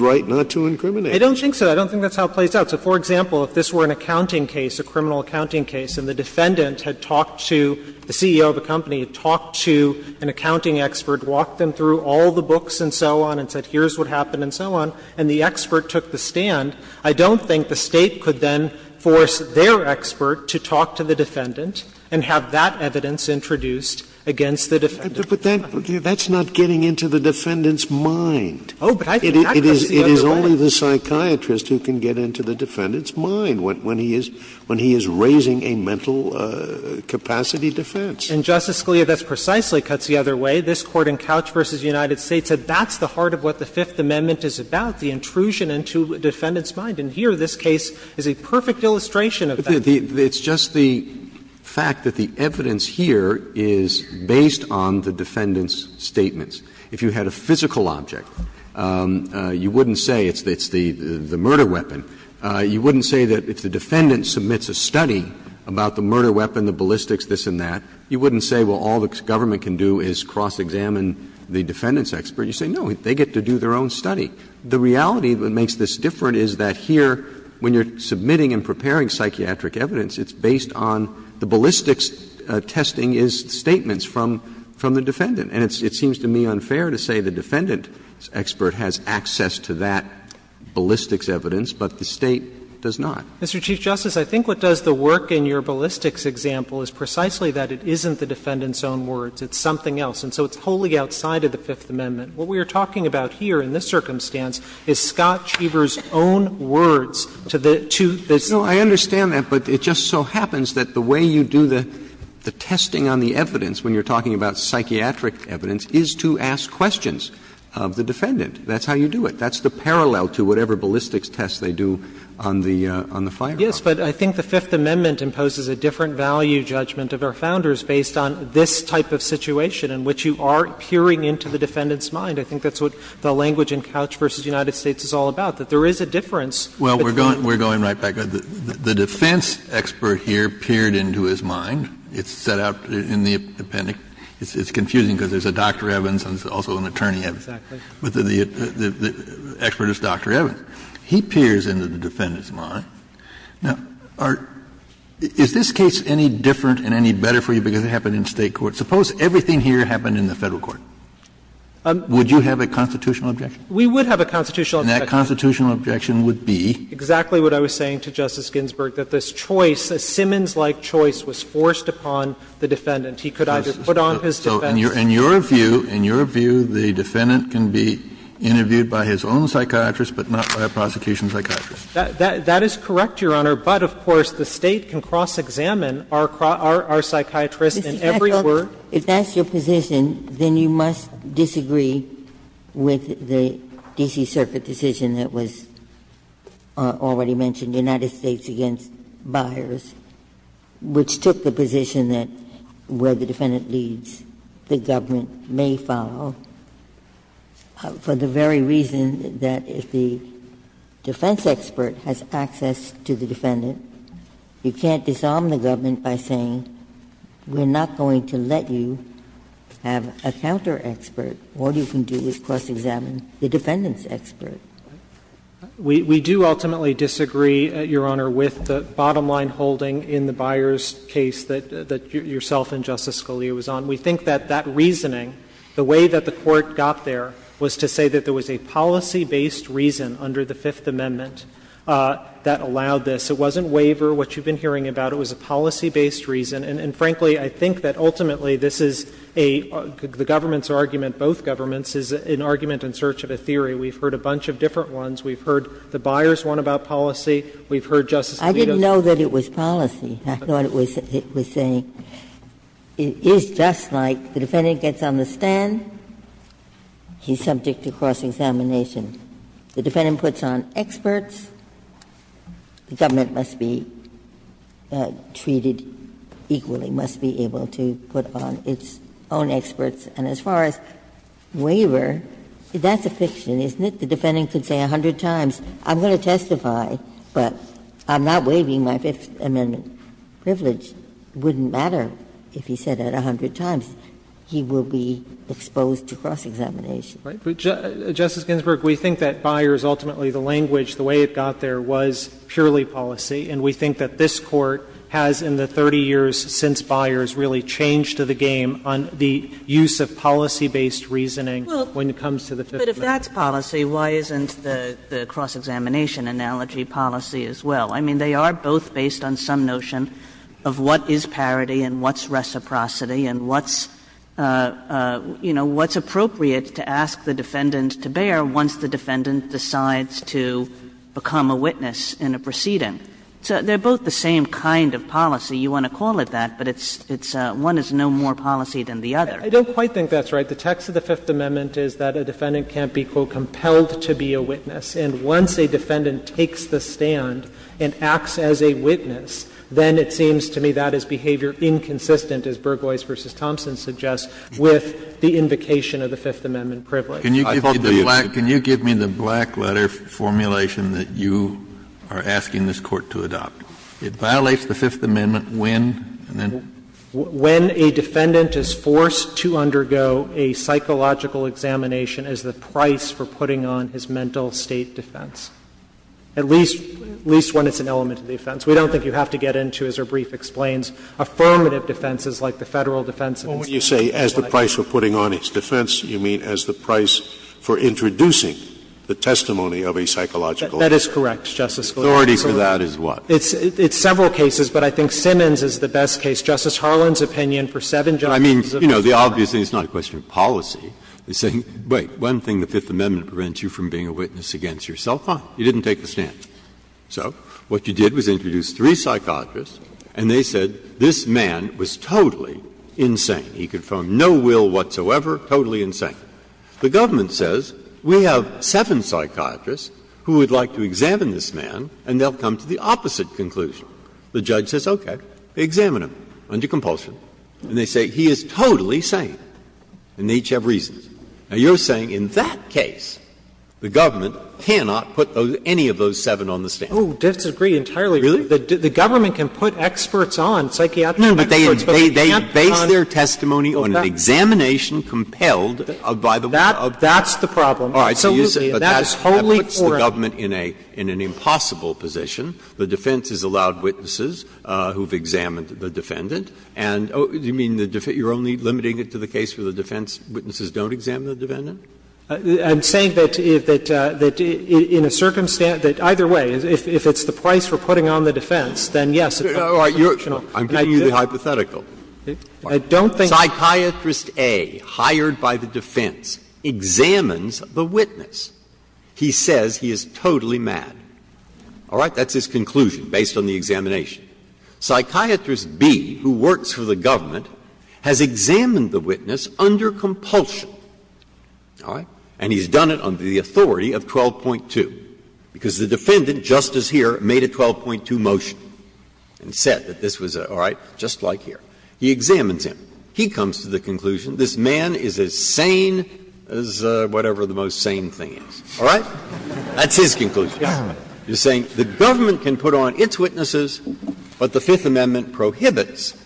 right not to incriminate. I don't think so. I don't think that's how it plays out. So, for example, if this were an accounting case, a criminal accounting case, and the defendant had talked to the CEO of the company, talked to an accounting expert, walked them through all the books and so on, and said here's what happened and so on, and the expert took the stand, I don't think the State could then force the defendant. Scalia. But that's not getting into the defendant's mind. Oh, but I think that cuts the other way. It is only the psychiatrist who can get into the defendant's mind when he is raising a mental capacity defense. And, Justice Scalia, that precisely cuts the other way. This Court in Couch v. United States said that's the heart of what the Fifth Amendment is about, the intrusion into a defendant's mind. And here, this case is a perfect illustration of that. Roberts. It's just the fact that the evidence here is based on the defendant's statements. If you had a physical object, you wouldn't say it's the murder weapon. You wouldn't say that if the defendant submits a study about the murder weapon, the ballistics, this and that, you wouldn't say, well, all the government can do is cross-examine the defendant's expert. You say, no, they get to do their own study. The reality that makes this different is that here, when you're submitting and preparing psychiatric evidence, it's based on the ballistics testing is statements from the defendant. And it seems to me unfair to say the defendant's expert has access to that ballistics evidence, but the State does not. Mr. Chief Justice, I think what does the work in your ballistics example is precisely that it isn't the defendant's own words. It's something else. And so it's wholly outside of the Fifth Amendment. What we are talking about here in this circumstance is Scott Cheever's own words to the two defendants. No, I understand that, but it just so happens that the way you do the testing on the evidence when you're talking about psychiatric evidence is to ask questions of the defendant. That's how you do it. That's the parallel to whatever ballistics test they do on the fire department. Katyal Yes, but I think the Fifth Amendment imposes a different value judgment of our Founders based on this type of situation in which you are peering into the defendant's mind. I think that's what the language in Couch v. United States is all about, that there is a difference between the two. Kennedy The defense expert here peered into his mind. It's set out in the appendix. It's confusing because there's a Dr. Evans and there's also an attorney Evans. But the expert is Dr. Evans. He peers into the defendant's mind. Now, is this case any different and any better for you because it happened in State court? Suppose everything here happened in the Federal court. Would you have a constitutional objection? Katyal We would have a constitutional objection. Kennedy And that constitutional objection would be? Katyal Exactly what I was saying to Justice Ginsburg, that this choice, a Simmons-like choice was forced upon the defendant. He could either put on his defense. Kennedy So in your view, in your view, the defendant can be interviewed by his own psychiatrist, but not by a prosecution psychiatrist? Katyal That is correct, Your Honor, but of course the State can cross-examine our psychiatrist in every word. Ginsburg If that's your position, then you must disagree with the D.C. Circuit decision that was already mentioned, United States against Byers, which took the position that where the defendant leads, the government may follow, for the very reason that if the defense expert has access to the defendant, you can't disarm the government by saying, we're not going to let you have a counter-expert, what you can do is cross-examine the defendant's expert. Katyal We do ultimately disagree, Your Honor, with the bottom-line holding in the Byers case that yourself and Justice Scalia was on. We think that that reasoning, the way that the Court got there, was to say that there was a policy-based reason under the Fifth Amendment that allowed this. It wasn't waiver, what you've been hearing about. It was a policy-based reason. And frankly, I think that ultimately this is a the government's argument, both governments, is an argument in search of a theory. We've heard a bunch of different ones. We've heard the Byers one about policy. We've heard Justice Scalia's. Ginsburg I didn't know that it was policy. I thought it was saying it is just like the defendant gets on the stand, he's subject to cross-examination. The defendant puts on experts, the government must be treated equally, must be able to put on its own experts, and as far as waiver, that's a fiction, isn't it? The defendant could say a hundred times, I'm going to testify, but I'm not waiving my Fifth Amendment privilege. It wouldn't matter if he said that a hundred times. He will be exposed to cross-examination. Justice Ginsburg, we think that Byers, ultimately the language, the way it got there was purely policy, and we think that this Court has in the 30 years since Byers really changed the game on the use of policy-based reasoning when it comes to the Fifth Amendment. Kagan But if that's policy, why isn't the cross-examination analogy policy as well? I mean, they are both based on some notion of what is parity and what's reciprocity and what's, you know, what's appropriate to ask the defendant to bear once the defendant decides to become a witness in a proceeding. So they're both the same kind of policy, you want to call it that, but it's one is no more policy than the other. Katyal I don't quite think that's right. The text of the Fifth Amendment is that a defendant can't be, quote, compelled to be a witness, and once a defendant takes the stand and acts as a witness, then it seems to me that is behavior inconsistent, as Burgoys v. Thompson suggests, with the invocation of the Fifth Amendment privilege. Kennedy Can you give me the black letter formulation that you are asking this Court to adopt? It violates the Fifth Amendment when, and then? Katyal When a defendant is forced to undergo a psychological examination as the price for putting on his mental state defense, at least when it's an element of defense. We don't think you have to get into, as our brief explains, affirmative defenses like the Federal defense of the State of the United States. Scalia When you say as the price for putting on his defense, you mean as the price for introducing the testimony of a psychological defense. Katyal That is correct, Justice Scalia. Scalia Authority for that is what? Katyal It's several cases, but I think Simmons is the best case. Justice Harlan's opinion for seven justices of the Court of Appeals. Breyer I mean, you know, the obvious thing is not a question of policy. They're saying, wait, one thing the Fifth Amendment prevents you from being a witness against yourself on. You didn't take the stand. So what you did was introduce three psychiatrists, and they said this man was totally insane. He confirmed no will whatsoever, totally insane. The government says, we have seven psychiatrists who would like to examine this man, and they'll come to the opposite conclusion. The judge says, okay, examine him under compulsion. And they say, he is totally sane, and they each have reasons. Now, you're saying in that case, the government cannot put any of those seven on the stand. Katyal Oh, disagree entirely. Breyer Really? Katyal The government can put experts on, psychiatric experts, but they can't put on. Breyer No, but they base their testimony on an examination compelled by the one of the defendants. Katyal That's the problem. Absolutely. And that is wholly incorrect. Breyer But that puts the government in an impossible position. The defense has allowed witnesses who have examined the defendant, and you mean you're only limiting it to the case where the defense witnesses don't examine the defendant? Katyal I'm saying that if that the defeat in a circumstance that either way, if it's the price we're putting on the defense, then yes, it's optional. Breyer I'm giving you the hypothetical. Psychiatrist A, hired by the defense, examines the witness. He says he is totally mad. All right? That's his conclusion, based on the examination. Psychiatrist B, who works for the government, has examined the witness under compulsion. All right? And he's done it under the authority of 12.2, because the defendant, just as here, made a 12.2 motion and said that this was a, all right, just like here. He examines him. He comes to the conclusion this man is as sane as whatever the most sane thing is. All right? That's his conclusion. You're saying the government can put on its witnesses, but the Fifth Amendment prohibits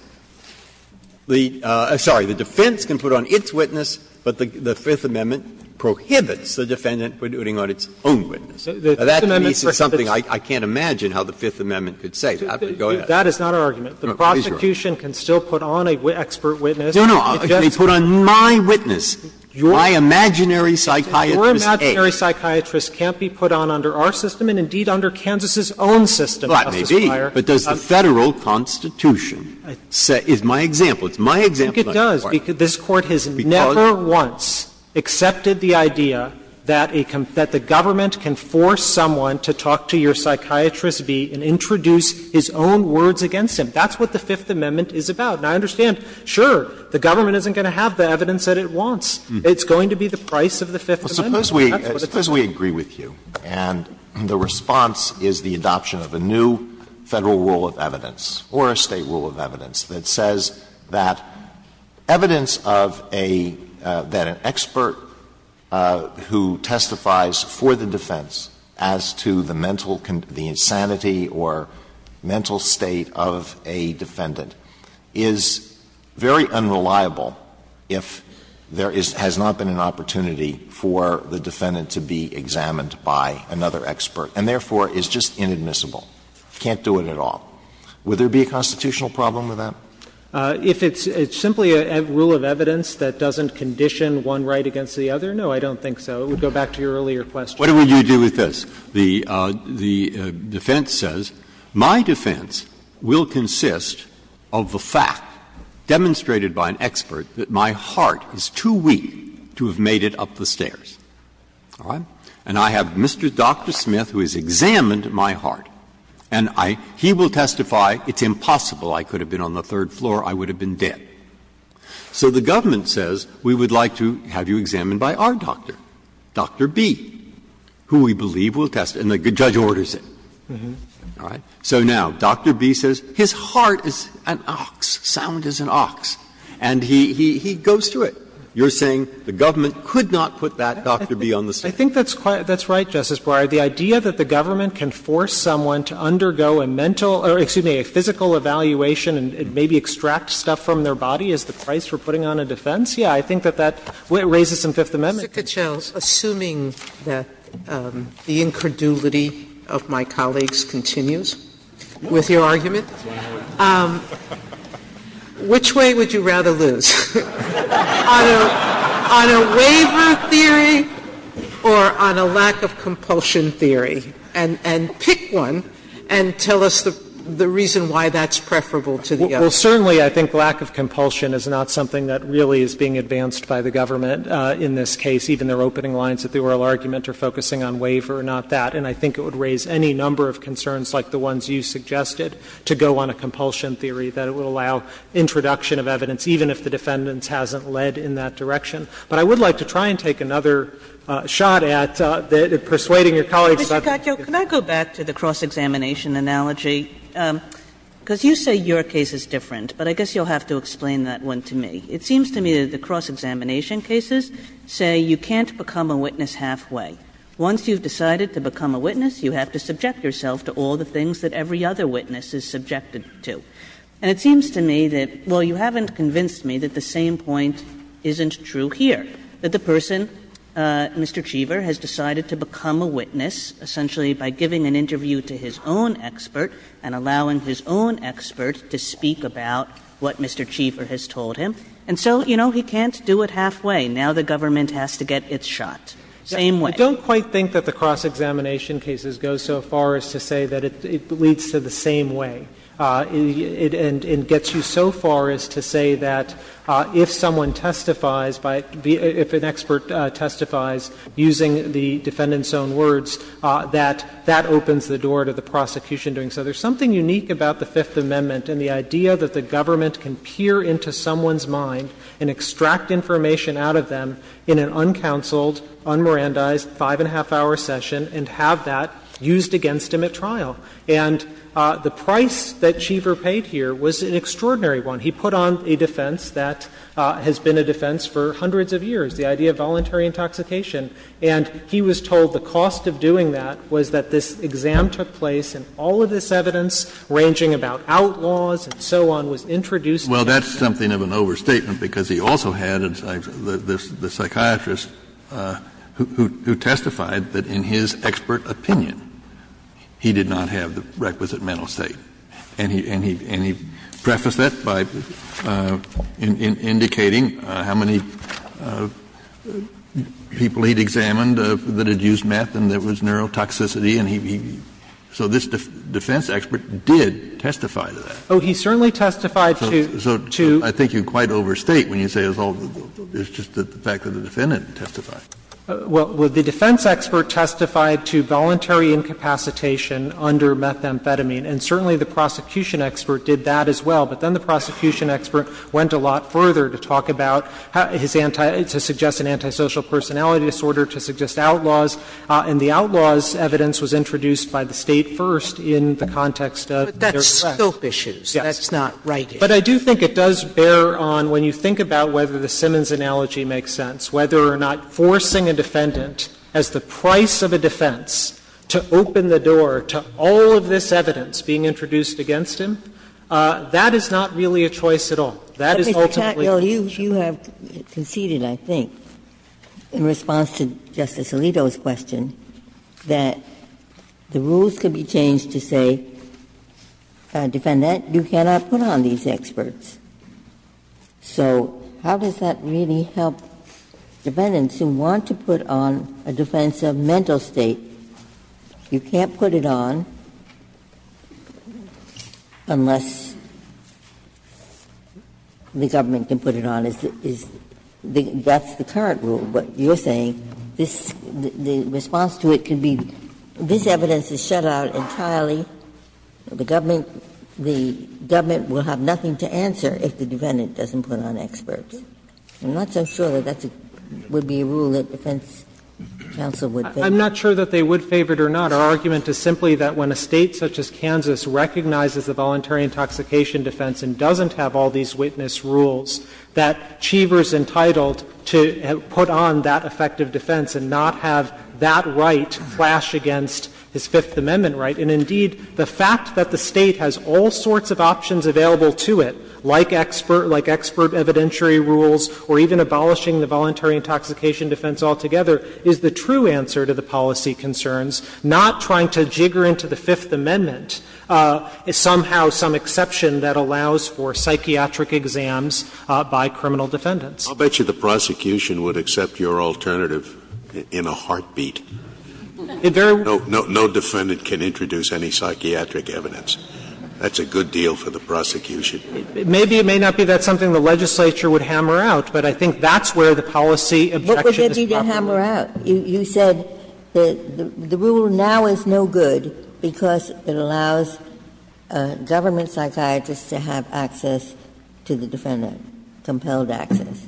the – sorry, the defense can put on its witness, but the Fifth Amendment prohibits the defendant from putting on its own witness. Now, that to me is something I can't imagine how the Fifth Amendment could say. Go ahead. Katyal That is not our argument. The prosecution can still put on an expert witness. Breyer No, no. They put on my witness, my imaginary psychiatrist A. And that's what the Fifth Amendment is about. It's about the evidence that can be put on under our system and indeed under Kansas' own system, Justice Breyer. Breyer Well, it may be. But does the Federal Constitution say – is my example. It's my example, Justice Breyer. Katyal I think it does. This Court has never once accepted the idea that a – that the government can force someone to talk to your psychiatrist B and introduce his own words against him. That's what the Fifth Amendment is about. And I understand, sure, the government isn't going to have the evidence that it wants. It's going to be the price of the Fifth Amendment. That's what it's about. Alito Suppose we agree with you and the response is the adoption of a new Federal rule of evidence or a State rule of evidence that says that evidence of a – that an expert who testifies for the defense as to the mental – the insanity or mental state of a defendant is very unreliable if there is – has not been an opportunity for the defendant to be examined by another expert and therefore is just inadmissible, can't do it at all. Would there be a constitutional problem with that? Katyal If it's simply a rule of evidence that doesn't condition one right against the other? No, I don't think so. It would go back to your earlier question. Breyer What do you do with this? The defense says my defense will consist of the fact, demonstrated by an expert, that my heart is too weak to have made it up the stairs. All right? And I have Mr. Dr. Smith, who has examined my heart, and I – he will testify it's impossible I could have been on the third floor, I would have been dead. So the government says we would like to have you examined by our doctor, Dr. B, who we believe will test it, and the judge orders it. All right? So now, Dr. B says his heart is an ox, sound as an ox, and he goes to it. You're saying the government could not put that Dr. B on the stairs. Katyal I think that's quite – that's right, Justice Breyer. The idea that the government can force someone to undergo a mental – or excuse me, a physical evaluation and maybe extract stuff from their body is the price for putting on a defense. Yeah, I think that that raises some Fifth Amendment concerns. Sotomayor Mr. Katyal, assuming that the incredulity of my colleagues continues with your argument, which way would you rather lose? On a waiver theory or on a lack of compulsion theory? And pick one and tell us the reason why that's preferable to the other. Katyal Well, certainly I think lack of compulsion is not something that really is being advanced by the government in this case, even their opening lines at the oral argument are focusing on waiver, not that. And I think it would raise any number of concerns like the ones you suggested to go on a compulsion theory, that it would allow introduction of evidence, even if the defendants hasn't led in that direction. But I would like to try and take another shot at persuading your colleagues about the difference. Kagan Mr. Katyal, can I go back to the cross-examination analogy? Because you say your case is different, but I guess you'll have to explain that one to me. It seems to me that the cross-examination cases say you can't become a witness halfway. Once you've decided to become a witness, you have to subject yourself to all the things that every other witness is subjected to. And it seems to me that, well, you haven't convinced me that the same point isn't true here, that the person, Mr. Cheever, has decided to become a witness essentially by giving an interview to his own expert and allowing his own expert to speak about what Mr. Cheever has told him. And so, you know, he can't do it halfway. Now the government has to get its shot. Same way. Katyal I don't quite think that the cross-examination cases go so far as to say that it leads to the same way. It gets you so far as to say that if someone testifies by be — if an expert testifies using the defendant's own words, that that opens the door to the prosecution doing so. There's something unique about the Fifth Amendment and the idea that the government can peer into someone's mind and extract information out of them in an uncounseled, un-Mirandized, five-and-a-half-hour session and have that used against him at trial. And the price that Cheever paid here was an extraordinary one. He put on a defense that has been a defense for hundreds of years, the idea of voluntary intoxication. And he was told the cost of doing that was that this exam took place and all of this Well, that's something of an overstatement, because he also had the psychiatrist who testified that in his expert opinion, he did not have the requisite mental state. And he prefaced that by indicating how many people he'd examined that had used meth and there was neurotoxicity, and he — so this defense expert did testify to that. Oh, he certainly testified to — So I think you quite overstate when you say it's all — it's just the fact that the defendant testified. Well, the defense expert testified to voluntary incapacitation under methamphetamine, and certainly the prosecution expert did that as well. But then the prosecution expert went a lot further to talk about his anti — to suggest an antisocial personality disorder, to suggest outlaws, and the outlaws' evidence was introduced by the State first in the context of — Soap issues, that's not right. But I do think it does bear on, when you think about whether the Simmons analogy makes sense, whether or not forcing a defendant, as the price of a defense, to open the door to all of this evidence being introduced against him, that is not really a choice at all. That is ultimately a choice. But, Mr. Tattnall, you have conceded, I think, in response to Justice Alito's question, that the rules could be changed to say, defendant, you cannot put on these experts. So how does that really help defendants who want to put on a defense of mental state? You can't put it on unless the government can put it on. And that's the current rule, but you're saying this — the response to it can be this evidence is shut out entirely, the government will have nothing to answer if the defendant doesn't put on experts. I'm not so sure that that would be a rule that defense counsel would favor. I'm not sure that they would favor it or not. Our argument is simply that when a State such as Kansas recognizes a voluntary intoxication defense and doesn't have all these witness rules, that Cheever is entitled to put on that effective defense and not have that right flash against his Fifth Amendment right. And, indeed, the fact that the State has all sorts of options available to it, like expert — like expert evidentiary rules, or even abolishing the voluntary intoxication defense altogether, is the true answer to the policy concerns, not trying to jigger into the Fifth Amendment somehow some exception that allows for psychiatric exams by criminal defendants. Scalia. I'll bet you the prosecution would accept your alternative in a heartbeat. No defendant can introduce any psychiatric evidence. That's a good deal for the prosecution. Maybe it may not be. That's something the legislature would hammer out, but I think that's where the policy objection is properly. What would you hammer out? You said that the rule now is no good because it allows government psychiatrists to have access to the defendant, compelled access.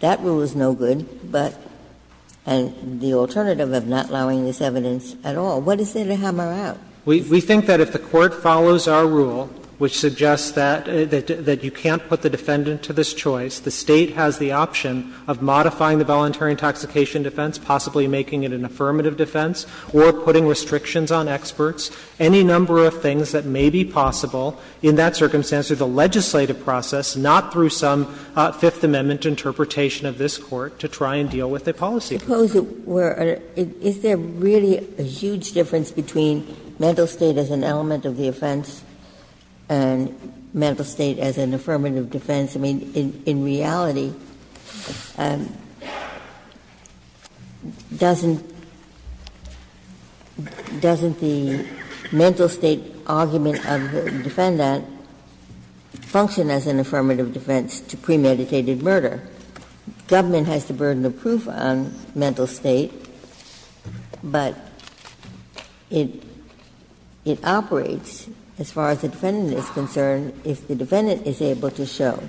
That rule is no good, but the alternative of not allowing this evidence at all, what is there to hammer out? We think that if the Court follows our rule, which suggests that you can't put the defendant to this choice, the State has the option of modifying the voluntary intoxication defense, possibly making it an affirmative defense, or putting restrictions on experts, any number of things that may be possible in that circumstance through the legislative process, not through some Fifth Amendment interpretation of this Court to try and deal with the policy concerns. Ginsburg. Is there really a huge difference between mental state as an element of the offense and mental state as an affirmative defense? I mean, in reality, doesn't the mental state argument of the defendant function as an affirmative defense to premeditated murder? Government has the burden of proof on mental state, but it operates, as far as the case is concerned, as a defense to premeditated murder,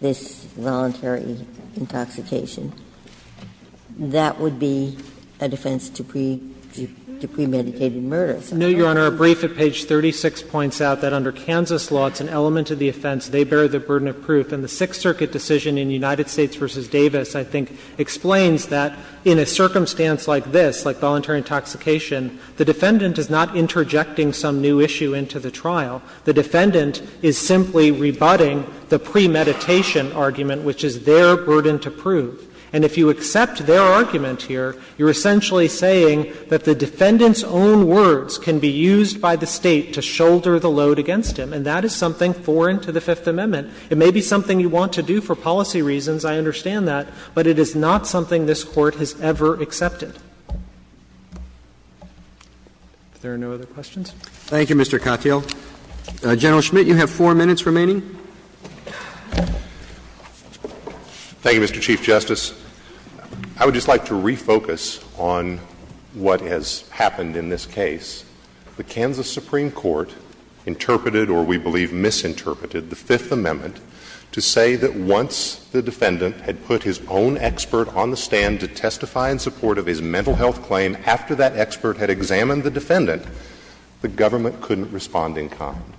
this voluntary intoxication. That would be a defense to premeditated murder. Katyala, a brief at page 36 points out that under Kansas law, it's an element of the offense, they bear the burden of proof, and the Sixth Circuit decision in United States v. Davis, I think, explains that in a circumstance like this, like premeditation argument, which is their burden to prove. And if you accept their argument here, you're essentially saying that the defendant's own words can be used by the State to shoulder the load against him, and that is something foreign to the Fifth Amendment. It may be something you want to do for policy reasons, I understand that, but it is not something this Court has ever accepted. If there are no other questions. Roberts. Thank you, Mr. Katyal. General Schmidt, you have four minutes remaining. Thank you, Mr. Chief Justice. I would just like to refocus on what has happened in this case. The Kansas Supreme Court interpreted, or we believe misinterpreted, the Fifth Amendment to say that once the defendant had put his own expert on the stand to testify in support of his mental health claim, after that expert had examined the defendant, the government couldn't respond in common.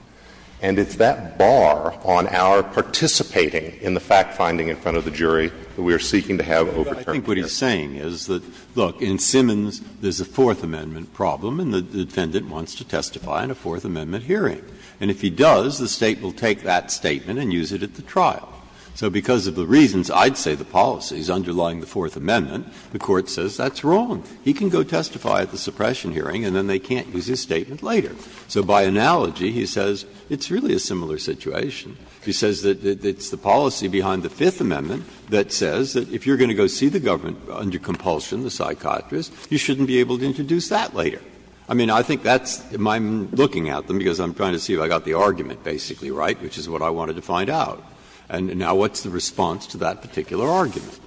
And it's that bar on our participating in the fact-finding in front of the jury that we are seeking to have overturned here. Breyer. I think what he's saying is that, look, in Simmons, there's a Fourth Amendment problem, and the defendant wants to testify in a Fourth Amendment hearing. And if he does, the State will take that statement and use it at the trial. So because of the reasons, I'd say the policies underlying the Fourth Amendment, the Court says that's wrong. He can go testify at the suppression hearing, and then they can't use his statement later. So by analogy, he says it's really a similar situation. He says that it's the policy behind the Fifth Amendment that says that if you're going to go see the government under compulsion, the psychiatrist, you shouldn't be able to introduce that later. I mean, I think that's my looking at them, because I'm trying to see if I got the argument basically right, which is what I wanted to find out. And now what's the response to that particular argument?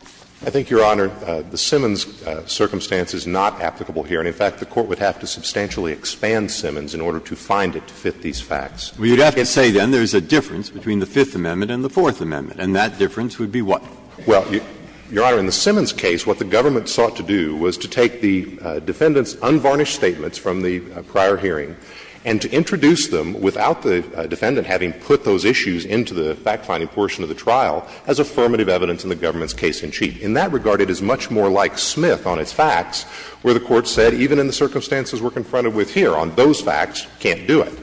I think, Your Honor, the Simmons circumstance is not applicable here. And, in fact, the Court would have to substantially expand Simmons in order to find it to fit these facts. Breyer, you'd have to say then there's a difference between the Fifth Amendment and the Fourth Amendment, and that difference would be what? Well, Your Honor, in the Simmons case, what the government sought to do was to take the defendant's unvarnished statements from the prior hearing and to introduce them without the defendant having put those issues into the fact-finding portion of the trial as affirmative evidence in the government's case in chief. In that regard, it is much more like Smith on its facts, where the Court said even in the circumstances we're confronted with here on those facts, can't do it.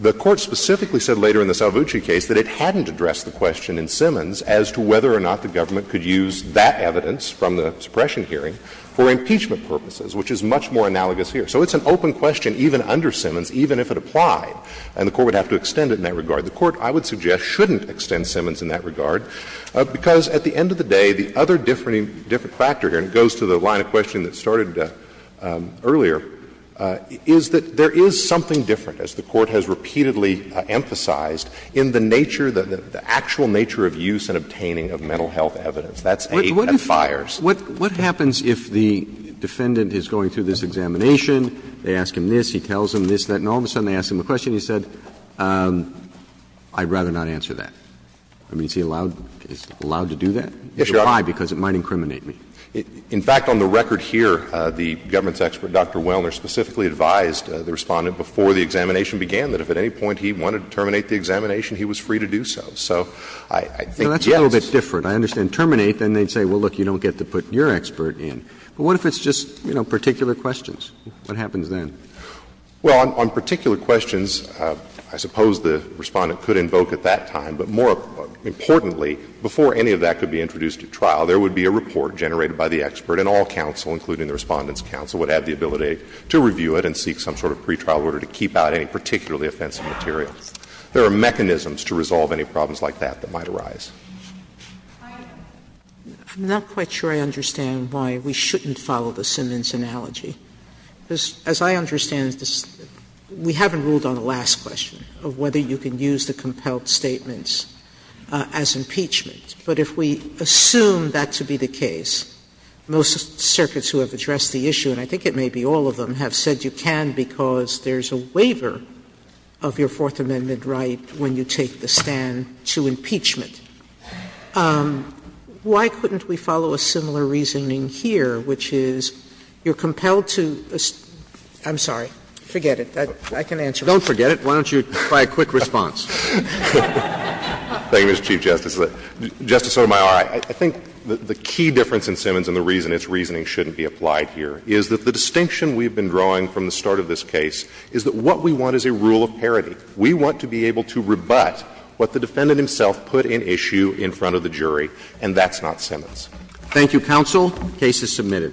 The Court specifically said later in the Salvucci case that it hadn't addressed the question in Simmons as to whether or not the government could use that evidence from the suppression hearing for impeachment purposes, which is much more analogous here. So it's an open question even under Simmons, even if it applied, and the Court would have to extend it in that regard. The Court, I would suggest, shouldn't extend Simmons in that regard, because at the end of the day, there's a different factor here, and it goes to the line of questioning that started earlier, is that there is something different, as the Court has repeatedly emphasized, in the nature, the actual nature of use and obtaining of mental health evidence. That's aid at fires. What happens if the defendant is going through this examination, they ask him this, he tells them this, that, and all of a sudden they ask him a question and he said, I'd rather not answer that? I mean, is he allowed to do that? Yes, Your Honor. Why? Because it might incriminate me. In fact, on the record here, the government's expert, Dr. Wellner, specifically advised the Respondent before the examination began that if at any point he wanted to terminate the examination, he was free to do so. So I think, yes. That's a little bit different. I understand terminate, then they'd say, well, look, you don't get to put your expert in. But what if it's just, you know, particular questions? What happens then? Well, on particular questions, I suppose the Respondent could invoke at that time. But more importantly, before any of that could be introduced at trial, there would be a report generated by the expert and all counsel, including the Respondent's counsel, would have the ability to review it and seek some sort of pretrial order to keep out any particularly offensive materials. There are mechanisms to resolve any problems like that that might arise. Sotomayor, I'm not quite sure I understand why we shouldn't follow the Simmons analogy. As I understand it, we haven't ruled on the last question of whether you can use the Fifth Amendment's compelled statements as impeachment. But if we assume that to be the case, most circuits who have addressed the issue and I think it may be all of them, have said you can because there's a waiver of your Fourth Amendment right when you take the stand to impeachment. Why couldn't we follow a similar reasoning here, which is you're compelled to assume – I'm sorry, forget it. I can answer it. If you don't forget it, why don't you try a quick response? Thank you, Mr. Chief Justice. Justice Sotomayor, I think the key difference in Simmons and the reason its reasoning shouldn't be applied here is that the distinction we've been drawing from the start of this case is that what we want is a rule of parity. We want to be able to rebut what the defendant himself put in issue in front of the jury, and that's not Simmons. Thank you, counsel. The case is submitted.